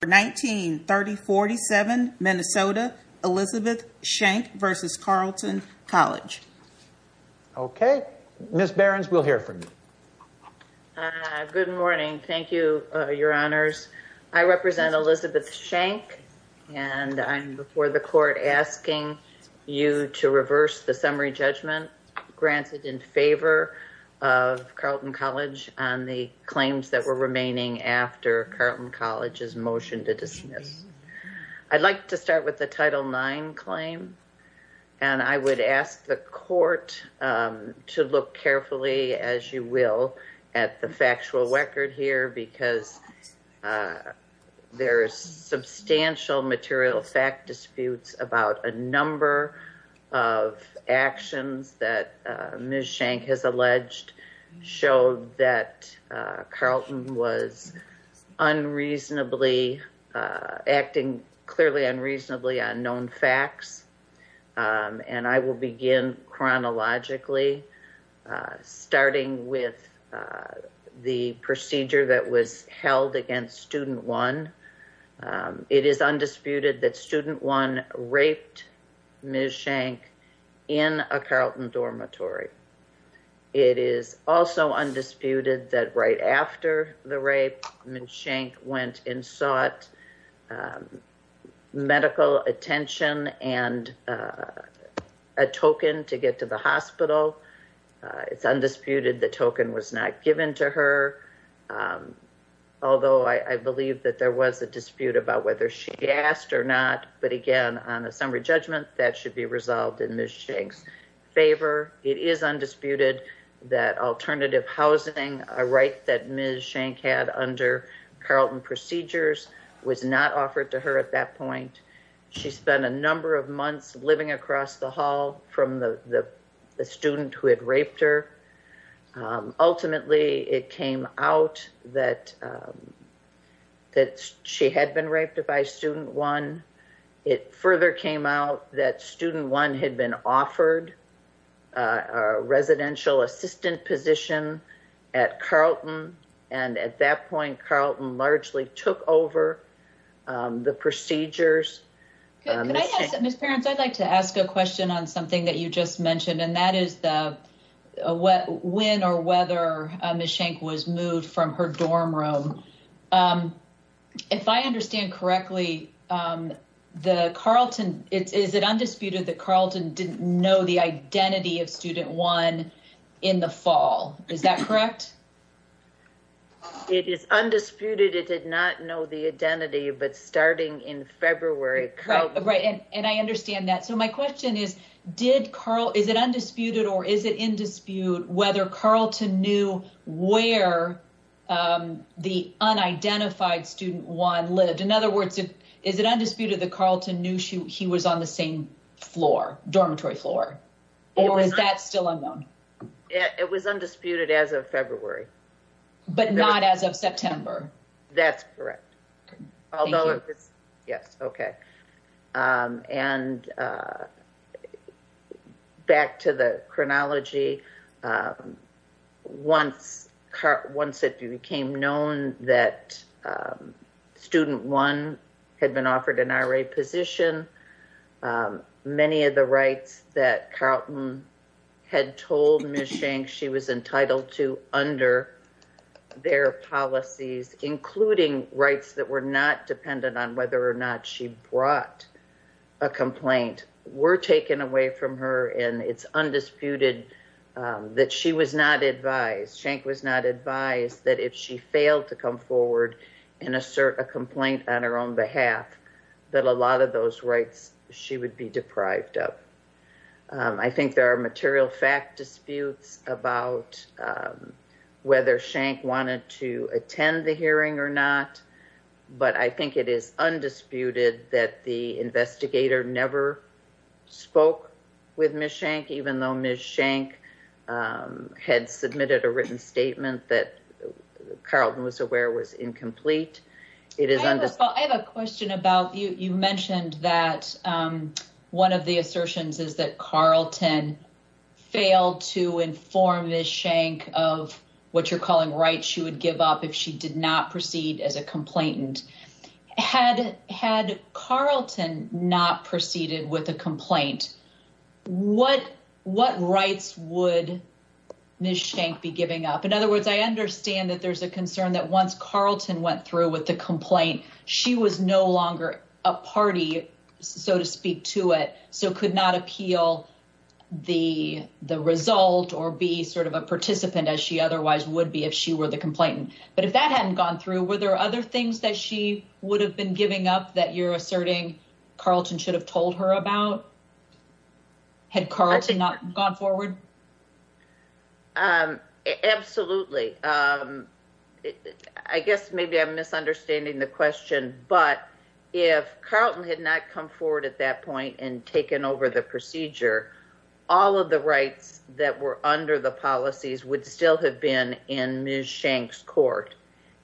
For 19-3047 Minnesota, Elizabeth Shank v. Carleton College Okay, Ms. Behrens, we'll hear from you. Good morning, thank you, your honors. I represent Elizabeth Shank and I'm before the court asking you to reverse the summary judgment granted in favor of Carleton College on the claims that were remaining after Carleton College's motion to dismiss. I'd like to start with the Title IX claim and I would ask the court to look carefully, as you will, at the factual record here because there's substantial material fact disputes about a number of actions that Ms. Shank has alleged showed that Carleton was unreasonably, acting clearly unreasonably on known facts. And I will begin chronologically, starting with the procedure that was held against student one. It is undisputed that student one raped Ms. Shank in a Carleton dormitory. It is also undisputed that right after the rape, Ms. Shank went and sought medical attention and a token to get to the hospital. It's undisputed the token was not given to her, although I believe that there was a dispute about whether she asked or not, but again, on a summary judgment, that should be resolved in Ms. Shank's favor. It is undisputed that alternative housing, a right that Ms. Shank had under Carleton procedures was not offered to her at that point. She spent a number of months living across the hall from the student who had raped her. Ultimately, it came out that she had been raped by student one. It further came out that student one had been offered a residential assistant position at point Carleton largely took over the procedures. Ms. Parents, I'd like to ask a question on something that you just mentioned, and that is when or whether Ms. Shank was moved from her dorm room. If I understand correctly, is it undisputed that Carleton didn't know the identity of student one in the fall? Is that correct? It is undisputed. It did not know the identity, but starting in February. Right, and I understand that. So my question is, is it undisputed or is it in dispute whether Carleton knew where the unidentified student one lived? In other words, is it undisputed that Carleton knew he was on the same floor, dormitory floor, or is that still unknown? It was undisputed as of February. But not as of September. That's correct. Although, yes, okay. And back to the chronology. Once it became known that student one had been offered an RA position, many of the rights that Carleton had told Ms. Shank she was entitled to under their policies, including rights that were not dependent on whether or not she brought a complaint, were taken away from her, and it's undisputed that she was not advised, Shank was not advised that if she failed to come forward and assert a complaint on her own behalf, that a lot of those rights she would be deprived of. I think there are material fact disputes about whether Shank wanted to attend the hearing or not, but I think it is undisputed that the investigator never spoke with Ms. Shank, even though Ms. Shank had submitted a written statement that Carleton was aware was incomplete. I have a question about, you mentioned that one of the assertions is that Carleton failed to inform Ms. Shank of what you're calling rights she would give up if she did not proceed as a complainant. Had Carleton not proceeded with a complaint, what rights would Ms. Shank be giving up? In other words, I understand that there's a concern that once Carleton went through with the complaint, she was no longer a party, so to speak, to it, so could not appeal the result or be sort of a participant as she otherwise would be if she were the complainant. But if that hadn't gone through, were there other things that she would have been giving up that you're asserting Carleton should have told her about, had Carleton not gone forward? Absolutely. I guess maybe I'm misunderstanding the question, but if Carleton had not come forward at that point and taken over the procedure, all of the rights that were under the policies would still have been in Ms. Shank's court.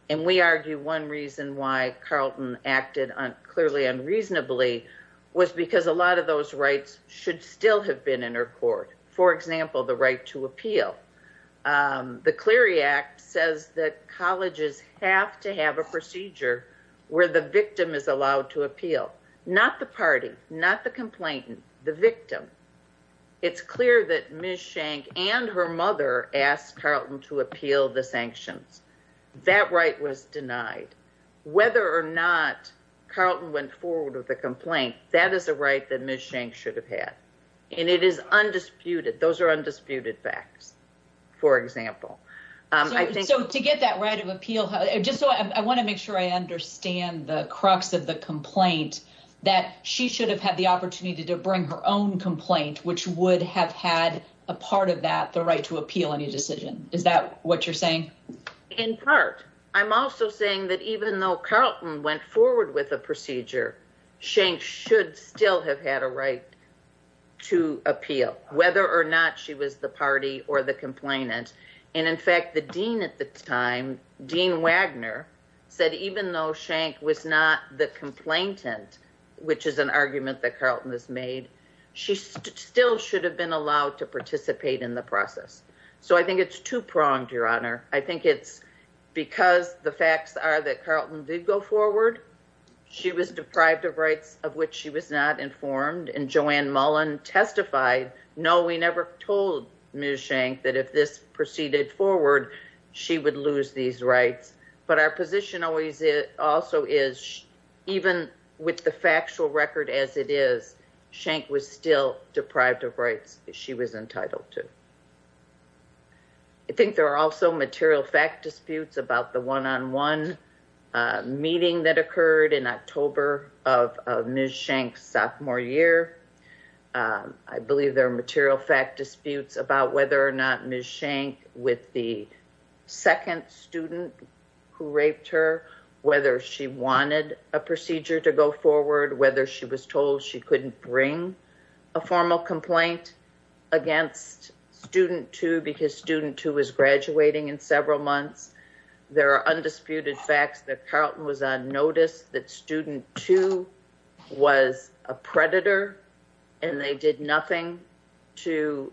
And we argue one reason why Carleton acted clearly unreasonably was because a lot of those rights should still have been in her court. For example, the right to appeal. The Clery Act says that colleges have to have a procedure where the victim is allowed to appeal, not the party, not the complainant, the victim. It's clear that Ms. Shank and her mother asked Carleton to appeal the sanctions. That right was denied. Whether or not Carleton went forward with a complaint, that is a right that Ms. Shank should have had. And it is undisputed. Those are undisputed facts, for example. So to get that right of appeal, just so I want to make sure I understand the crux of the complaint, that she should have had the opportunity to bring her own complaint, which would have had a part of that, the right to appeal any decision. Is that what you're saying? In part. I'm also saying that even though Carleton went forward with a procedure, Shank should still have had a right to appeal, whether or not she was the party or the complainant. And in fact, the dean at the time, Dean Wagner, said even though Shank was not the complainant, which is an argument that Carleton has made, she still should have been allowed to participate in the process. So I think it's two pronged, Your Honor. I think it's because the facts are that Carleton did go forward. She was deprived of rights of which she was not informed. And Joanne Mullen testified, no, we never told Ms. Shank that if this proceeded forward, she would lose these rights. But our position also is even with the factual record as it is, Shank was still deprived of rights she was entitled to. I think there are also material fact disputes about the one-on-one meeting that occurred in October of Ms. Shank's sophomore year. I believe there are material fact disputes about whether or not Ms. Shank, with the second student who raped her, whether she wanted a procedure to go forward, whether she was told she couldn't bring a formal complaint against student two because student two was graduating in several months. There are undisputed facts that Carleton was on notice that student two was a predator and they did nothing to,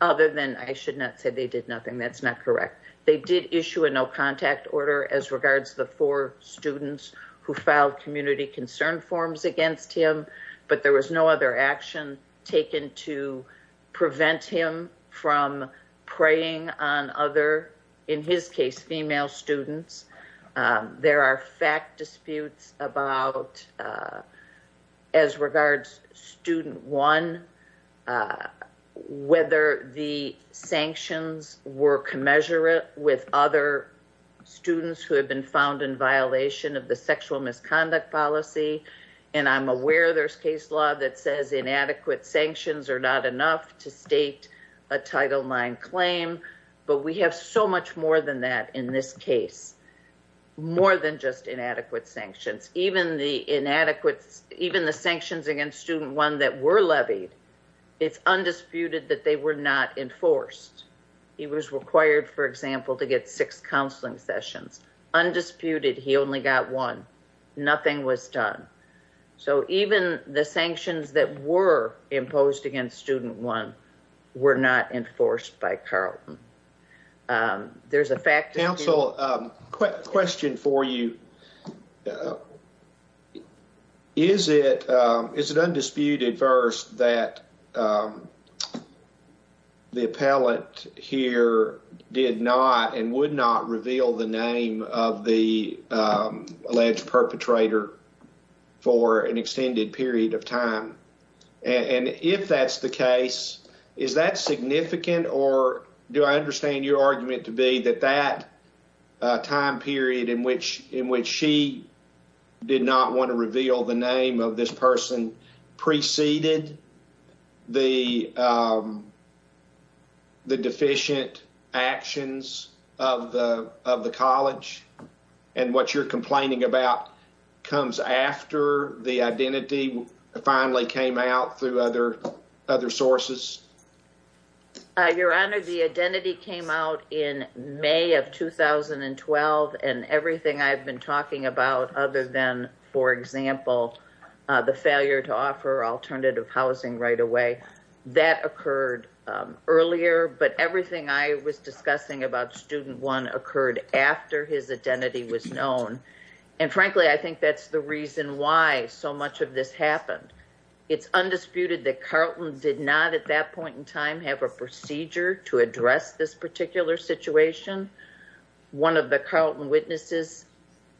other than, I should not say they did nothing, that's not correct. They did issue a no contact order as regards the four students who filed community concern forms against him. But there was no other action taken to prevent him from preying on other, in his case, female students. There are fact disputes about, as regards student one, whether the sanctions were commensurate with other students who have been found in violation of the sexual misconduct policy. And I'm aware there's case law that says inadequate sanctions are not enough to state a Title IX claim. But we have so much more than that in this case. More than just inadequate sanctions. Even the sanctions against student one that were levied, it's undisputed that they were not enforced. He was required, for example, to get six counseling sessions. Undisputed, he only got one. Nothing was done. So even the sanctions that were imposed against student one were not enforced by Carleton. There's a fact dispute. Question for you. Is it undisputed, first, that the appellant here did not and would not reveal the name of the alleged perpetrator for an extended period of time? And if that's the case, is that significant? Or do I understand your argument to be that that time period in which she did not want to reveal the name of this person preceded the deficient actions of the college? And what you're complaining about comes after the identity finally came out through other sources? Your Honor, the identity came out in May of 2012 and everything I've been talking about other than, for example, the failure to offer alternative housing right away, that occurred earlier. But everything I was discussing about student one occurred after his identity was known. And frankly, I think that's the reason why so much of this happened. It's undisputed that Carleton did not at that point in time have a procedure to address this particular situation. One of the Carleton witnesses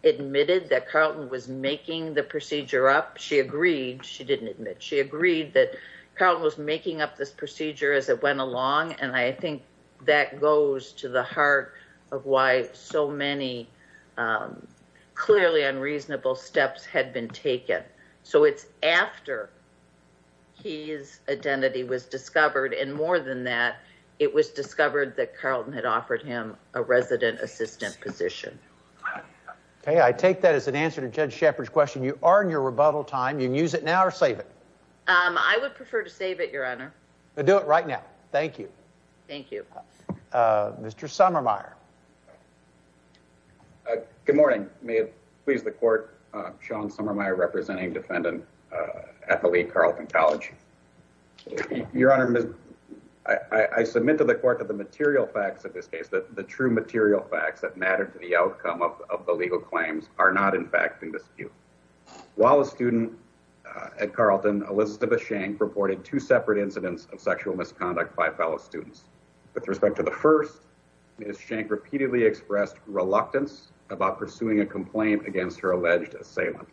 admitted that Carleton was making the procedure up. She agreed. She didn't admit. She agreed that Carleton was making up this procedure as it went along. And I think that goes to the heart of why so many clearly unreasonable steps had been taken. So it's after his identity was discovered. And more than that, it was discovered that Carleton had offered him a resident assistant position. Okay. I take that as an answer to Judge Shepard's question. You are in your rebuttal time. You can use it now or save it. I would prefer to save it, Your Honor. Then do it right now. Thank you. Thank you. Mr. Summermeyer. Good morning. May it please the court, Sean Summermeyer, representing defendant at the Lee Carleton College. Your Honor, I submit to the court that the material facts of this case, the true material facts that matter to the outcome of the legal claims are not, in fact, in dispute. While a student at Carleton, Elizabeth Shank, reported two separate incidents of sexual misconduct by fellow students. With respect to the first, Ms. Shank repeatedly expressed reluctance about pursuing a complaint against her alleged assailant.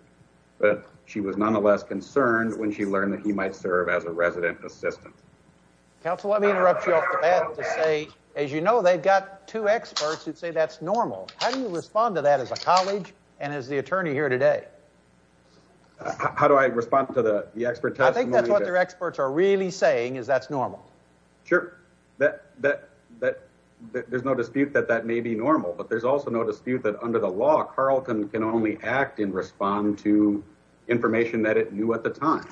But she was nonetheless concerned when she learned that he might serve as a resident assistant. Counsel, let me interrupt you off the bat to say, as you know, they've got two experts who'd say that's normal. How do you respond to that as a college and as the attorney here today? How do I respond to the expert testimony? I think that's what their experts are really saying is that's normal. Sure, there's no dispute that that may be normal. But there's also no dispute that under the law, Carleton can only act and respond to information that it knew at the time.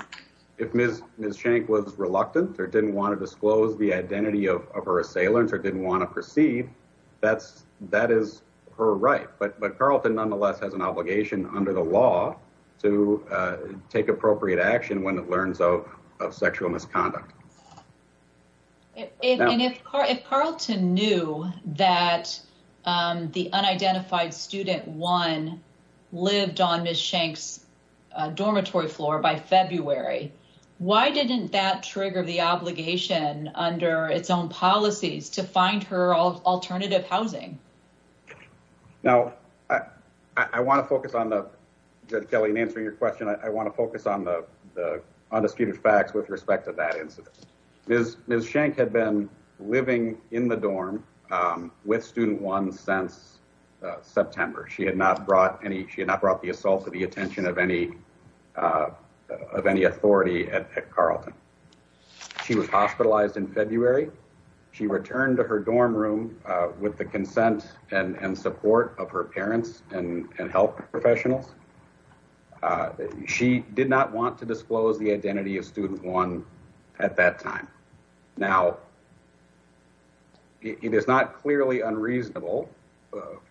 If Ms. Shank was reluctant or didn't want to disclose the identity of her assailant or didn't want to proceed, that is her right. But Carleton nonetheless has an obligation under the law to take appropriate action when it learns of sexual misconduct. And if Carleton knew that the unidentified student, one, lived on Ms. Shank's dormitory floor by February, why didn't that trigger the obligation under its own policies to find her alternative housing? Now, I want to focus on the, Kelly, in answering your question, I want to focus on the undisputed facts with respect to that incident. Ms. Shank had been living in the dorm with student one since September. She had not brought the assault to the attention of any authority at Carleton. She was hospitalized in February. She returned to her dorm room with the consent and support of her parents and health professionals. She did not want to disclose the identity of student one at that time. Now, it is not clearly unreasonable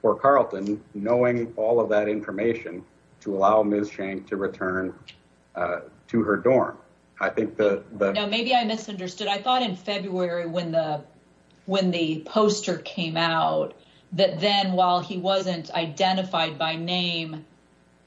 for Carleton, knowing all of that information, to allow Ms. Shank to return to her dorm. I think that... Now, maybe I misunderstood. I thought in February when the poster came out, that then while he wasn't identified by name,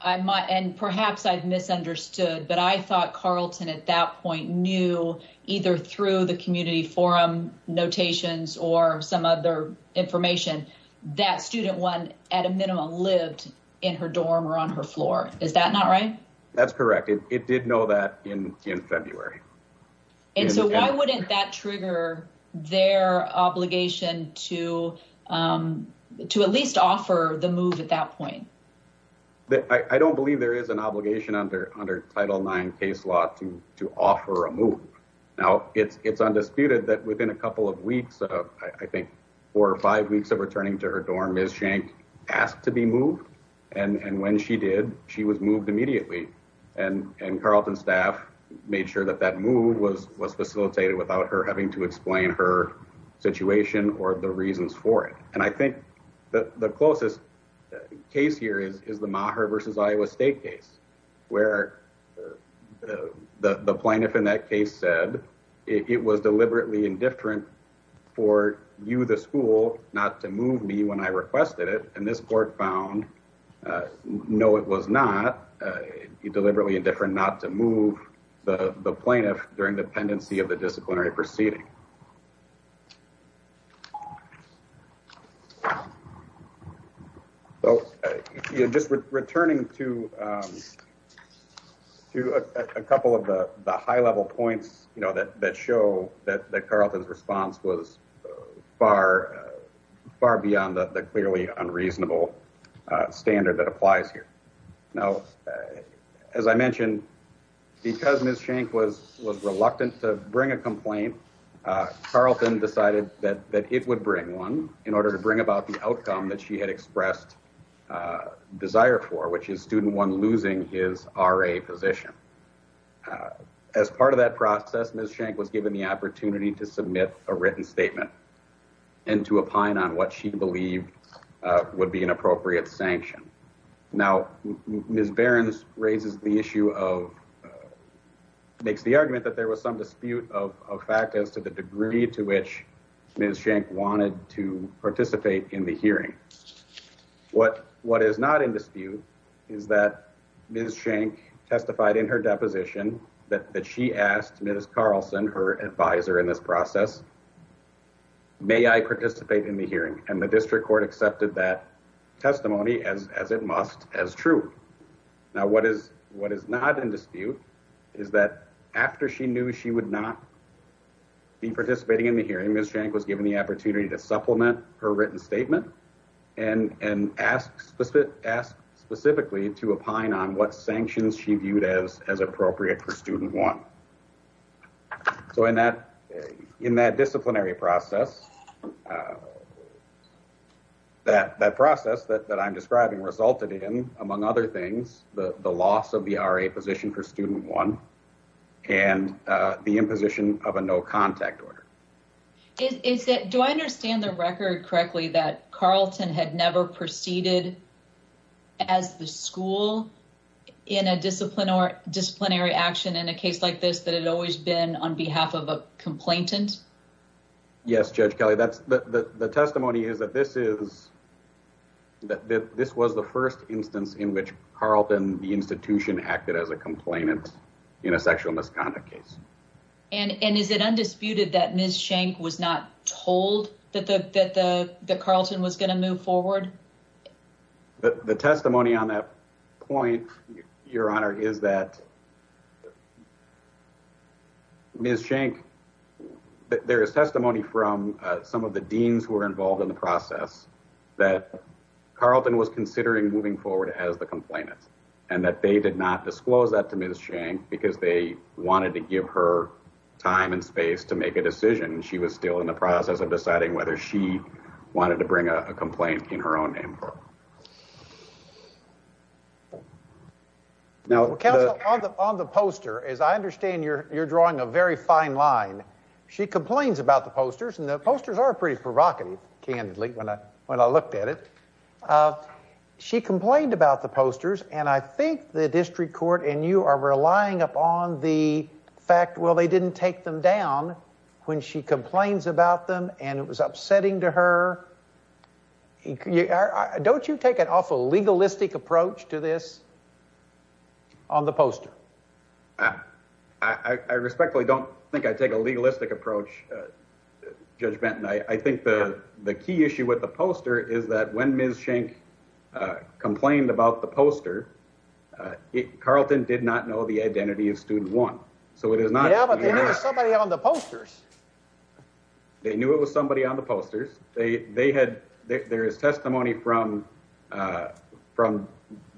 and perhaps I've misunderstood, but I thought Carleton at that point knew either through the community forum notations or some other information that student one at a minimum lived in her dorm or on her floor. Is that not right? That's correct. It did know that in February. And so why wouldn't that trigger their obligation to at least offer the move at that point? I don't believe there is an obligation under Title IX case law to offer a move. Now, it's undisputed that within a couple of weeks, I think four or five weeks of returning to her dorm, Ms. Shank asked to be moved. And when she did, she was moved immediately. And Carleton staff made sure that that move was facilitated without her having to explain her situation or the reasons for it. And I think the closest case here is the Maher versus Iowa State case, where the plaintiff in that case said it was deliberately indifferent for you, the school, not to move me when I requested it. And this court found, no, it was not deliberately indifferent not to move the plaintiff during the pendency of the disciplinary proceeding. So just returning to a couple of the high-level points that show that Carleton's response was far beyond the clearly unreasonable standard that applies here. Now, as I mentioned, because Ms. Shank was reluctant to bring a complaint, Carleton decided that it would bring one in order to bring about the outcome that she had expressed desire for, which is student one losing his RA position. As part of that process, Ms. Shank was given the opportunity to submit a written statement and to opine on what she believed would be an appropriate sanction. Now, Ms. Behrens raises the issue of, makes the argument that there was some dispute of fact as to the degree to which Ms. Shank wanted to participate in the hearing. What is not in dispute is that Ms. Shank testified in her deposition that she asked Ms. Carleton, her advisor in this process, may I participate in the hearing? And the district court accepted that testimony as it must, as true. Now, what is not in dispute is that after she knew she would not be participating in the hearing, Ms. Shank was given the opportunity to supplement her written statement and ask specifically to opine on what sanctions she viewed as appropriate for student one. So in that disciplinary process, that process that I'm describing resulted in, among other things, the loss of the RA position for student one and the imposition of a no contact order. Do I understand the record correctly that Carleton had never proceeded as the school in a disciplinary action in a case like this that had always been on behalf of a complainant? Yes, Judge Kelly, the testimony is that this was the first instance in which Carleton, the institution, acted as a complainant in a sexual misconduct case. And is it undisputed that Ms. Shank was not told that Carleton was going to move forward? The testimony on that point, Your Honor, is that Ms. Shank, there is testimony from some of the deans who were involved in the process that Carleton was considering moving forward as the complainant and that they did not disclose that to Ms. Shank because they wanted to give her time and space to make a decision. She was still in the process of deciding whether she wanted to bring a complaint in her own name. Now, Counsel, on the poster, as I understand, you're drawing a very fine line. She complains about the posters and the posters are pretty provocative, candidly, when I looked at it. She complained about the posters and I think the district court and you are relying upon the fact, well, they didn't take them down when she complains about them and it was upsetting to her. And don't you take an awful legalistic approach to this on the poster? I respectfully don't think I take a legalistic approach, Judge Benton. I think the key issue with the poster is that when Ms. Shank complained about the poster, Carleton did not know the identity of student one. So it is not... Yeah, but they knew it was somebody on the posters. They knew it was somebody on the posters. They had, there is testimony from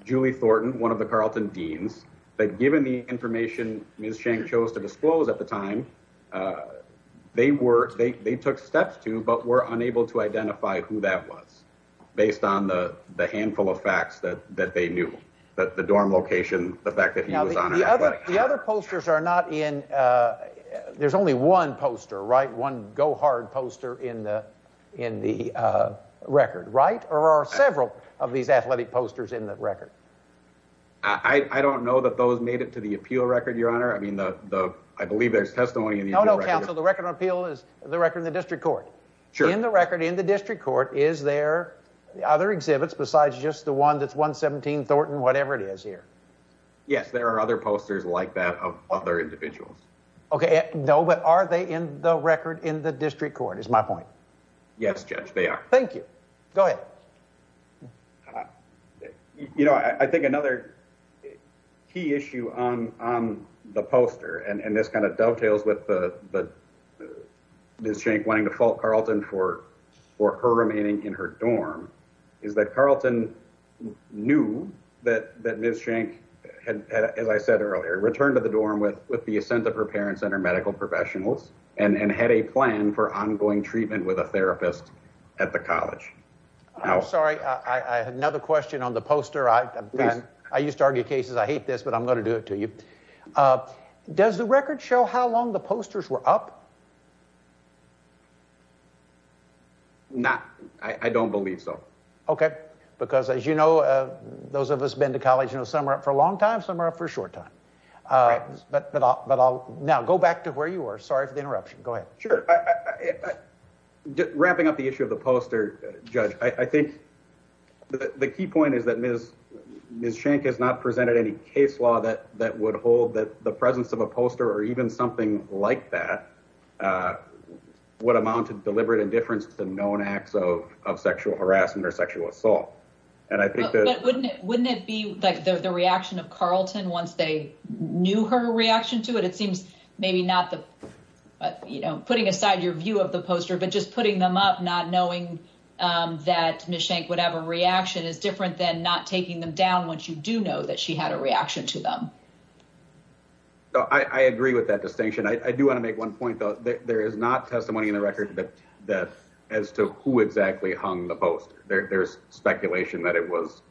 Julie Thornton, one of the Carleton deans, that given the information Ms. Shank chose to disclose at the time, they were, they took steps to, but were unable to identify who that was based on the handful of facts that they knew. That the dorm location, the fact that he was on it. The other posters are not in, there's only one poster, right? One go-hard poster in the record, right? Or are several of these athletic posters in the record? I don't know that those made it to the appeal record, Your Honor. I mean, I believe there's testimony in the appeal record. No, no, counsel, the record on appeal is the record in the district court. Sure. In the record in the district court, is there other exhibits besides just the one that's 117 Thornton, whatever it is here? Yes, there are other posters like that of other individuals. Okay. No, but are they in the record in the district court is my point? Yes, Judge, they are. Thank you. Go ahead. You know, I think another key issue on the poster, and this kind of dovetails with the Ms. Shank wanting to fault Carleton for her remaining in her dorm, is that Carleton knew that Ms. Shank had, as I said earlier, returned to the dorm with the assent of her parents and her medical professionals and had a plan for ongoing treatment with a therapist at the college. I'm sorry, I had another question on the poster. I used to argue cases. I hate this, but I'm going to do it to you. Does the record show how long the posters were up? Not, I don't believe so. Okay, because as you know, those of us been to college, you know, some are up for a long time, some are up for a short time, but I'll now go back to where you were. Sorry for the interruption. Go ahead. Sure. Wrapping up the issue of the poster, Judge, I think the key point is that Ms. Shank has not presented any case law that would hold that the presence of a poster or even something like that would amount to deliberate indifference to known acts of sexual harassment or sexual assault. Wouldn't it be like the reaction of Carleton once they knew her reaction to it? It seems maybe not the, you know, putting aside your view of the poster, but just putting them up, not knowing that Ms. Shank would have a reaction is different than not taking them down once you do know that she had a reaction to them. I agree with that distinction. I do want to make one point, though. There is not testimony in the record that as to who exactly hung the poster. There's speculation that it was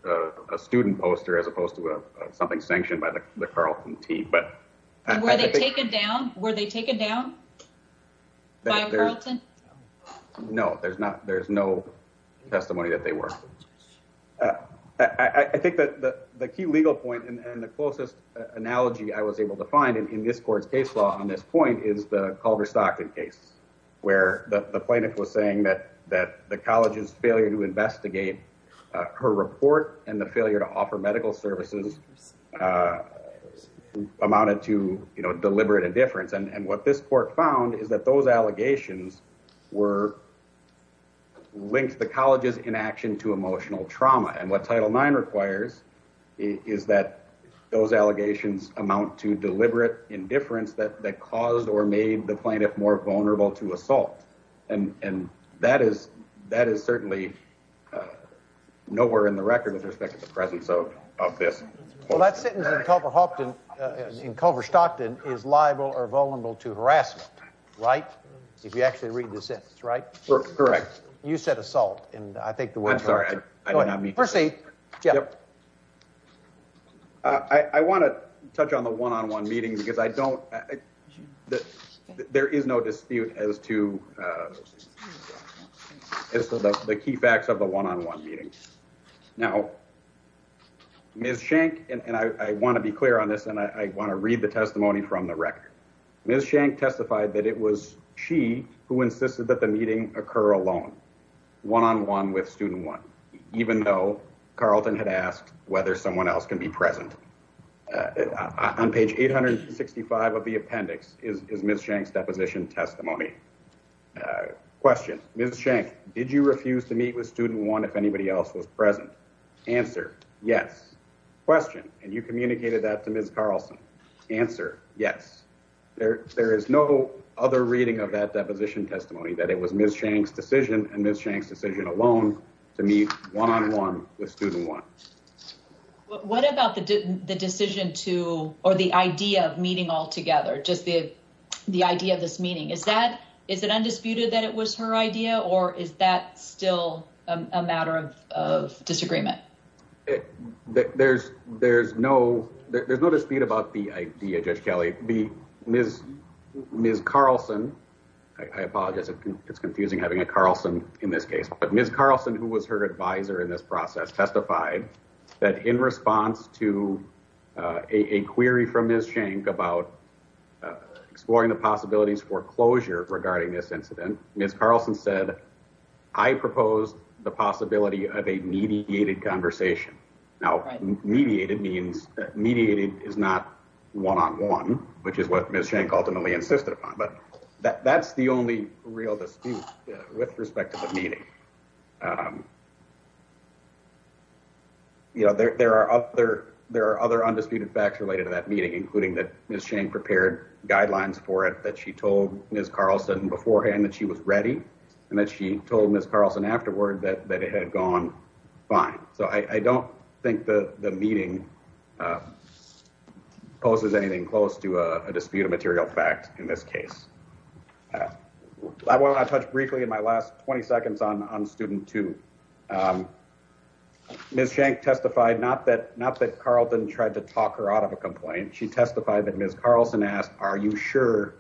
a student poster as opposed to something sanctioned by the Carleton team. But were they taken down? Were they taken down by Carleton? No, there's not. There's no testimony that they were. I think that the key legal point and the closest analogy I was able to find in this court's case law on this point is the Culver Stockton case where the plaintiff was saying that the college's failure to investigate her report and the failure to offer medical services amounted to deliberate indifference. And what this court found is that those allegations were linked to the college's inaction to emotional trauma. And what Title IX requires is that those allegations amount to deliberate indifference that caused or made the plaintiff more vulnerable to assault. And that is certainly nowhere in the record with respect to the presence of this. Well, that sentence in Culver Stockton is liable or vulnerable to harassment, right? If you actually read the sentence, right? Correct. You said assault. And I think the way I'm sorry, I did not mean to say I want to touch on the one-on-one meeting because I don't there is no dispute as to the key facts of the one-on-one meeting. Now, Ms. Schenck, and I want to be clear on this, and I want to read the testimony from the record. Ms. Schenck testified that it was she who insisted that the meeting occur alone. One-on-one with Student One, even though Carlton had asked whether someone else can be present. On page 865 of the appendix is Ms. Schenck's deposition testimony. Question, Ms. Schenck, did you refuse to meet with Student One if anybody else was present? Answer, yes. Question, and you communicated that to Ms. Carlson. Answer, yes. There is no other reading of that deposition testimony that it was Ms. Schenck's decision and Ms. Schenck's decision alone to meet one-on-one with Student One. What about the decision to, or the idea of meeting all together? Just the idea of this meeting. Is that, is it undisputed that it was her idea or is that still a matter of disagreement? There's no dispute about the idea, Judge Kelley. Ms. Carlson, I apologize, it's confusing having a Carlson in this case, but Ms. Carlson, who was her advisor in this process, testified that in response to a query from Ms. Schenck about exploring the possibilities for closure regarding this incident, Ms. Carlson said, I proposed the possibility of a mediated conversation. Now, mediated means, mediated is not one-on-one, which is what Ms. Schenck ultimately insisted upon, but that's the only real dispute with respect to the meeting. You know, there are other undisputed facts related to that meeting, including that Ms. Schenck prepared guidelines for it, that she told Ms. Carlson beforehand that she was ready and that she told Ms. Carlson afterward that it had gone fine. So, I don't think the meeting poses anything close to a dispute of material fact in this case. I want to touch briefly in my last 20 seconds on student two. Ms. Schenck testified, not that Carlton tried to talk her out of a complaint, she testified that Ms. Carlson asked, are you sure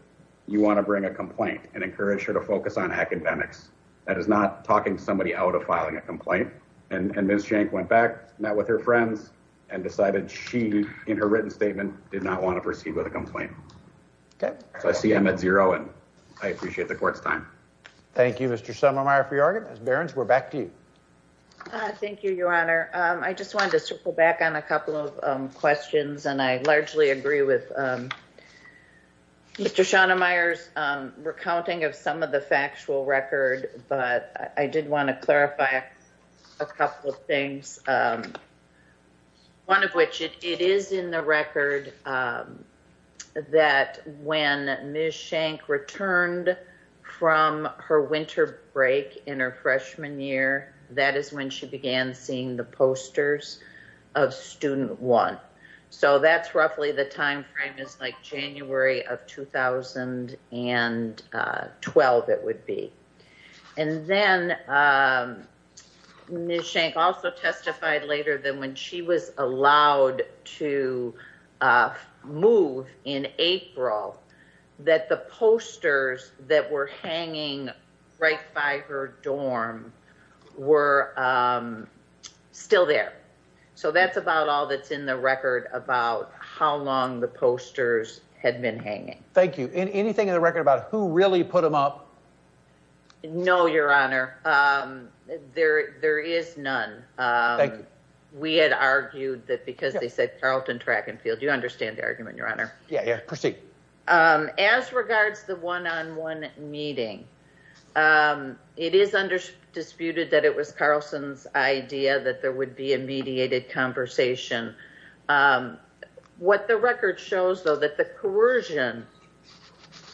you want to bring a complaint and encourage her to focus on academics? That is not talking somebody out of filing a complaint. And Ms. Schenck went back, met with her friends and decided she, in her written statement, did not want to proceed with a complaint. So, I see them at zero and I appreciate the court's time. Thank you, Mr. Schonemeyer for your argument. Barron, we're back to you. Thank you, your honor. I just wanted to circle back on a couple of questions and I largely agree with Mr. Schonemeyer's recounting of some of the factual record, but I did want to clarify a couple of things. One of which, it is in the record that when Ms. Schenck returned from her winter break in her freshman year, that is when she began seeing the posters of student one. So, that's roughly the time frame is like January of 2012, it would be. And then Ms. Schenck also testified later that when she was allowed to move in April, that the posters that were hanging right by her dorm were still there. So, that's about all that's in the record about how long the posters had been hanging. Thank you. Anything in the record about who really put them up? No, your honor. There is none. Thank you. We had argued that because they said Carlton Track and Field, you understand the argument, your honor. Yeah, proceed. As regards the one-on-one meeting, it is under disputed that it was Carlson's idea that there would be a mediated conversation. What the record shows, though, that the coercion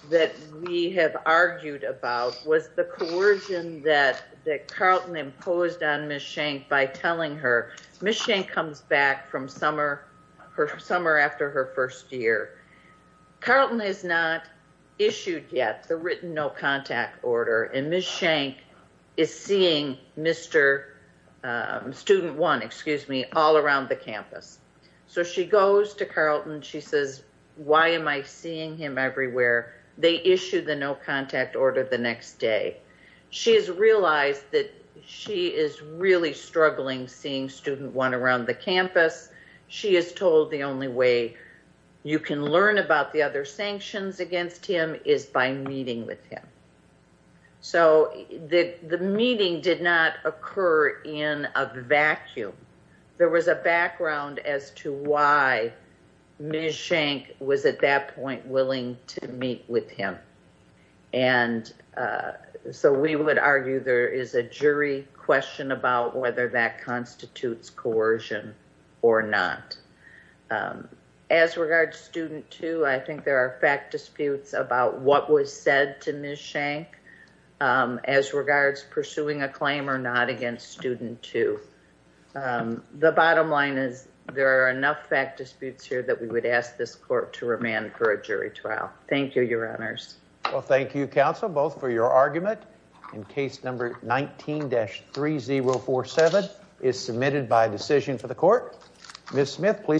that we have argued about was the coercion that Carlton imposed on Ms. Schenck by telling her, Ms. Schenck comes back from summer after her first year. Carlton has not issued yet the written no all around the campus. So, she goes to Carlton. She says, why am I seeing him everywhere? They issued the no contact order the next day. She has realized that she is really struggling seeing student one around the campus. She is told the only way you can learn about the other sanctions against him is by meeting with him. The meeting did not occur in a vacuum. There was a background as to why Ms. Schenck was at that point willing to meet with him. We would argue there is a jury question about whether that constitutes coercion or not. As regards student two, I think there are fact disputes about what was said to Ms. Schenck as regards pursuing a claim or not against student two. The bottom line is there are enough fact disputes here that we would ask this court to remand for a jury trial. Thank you, your honors. Well, thank you, counsel, both for your argument. And case number 19-3047 is submitted by decision for the court. Ms. Smith, please come forward.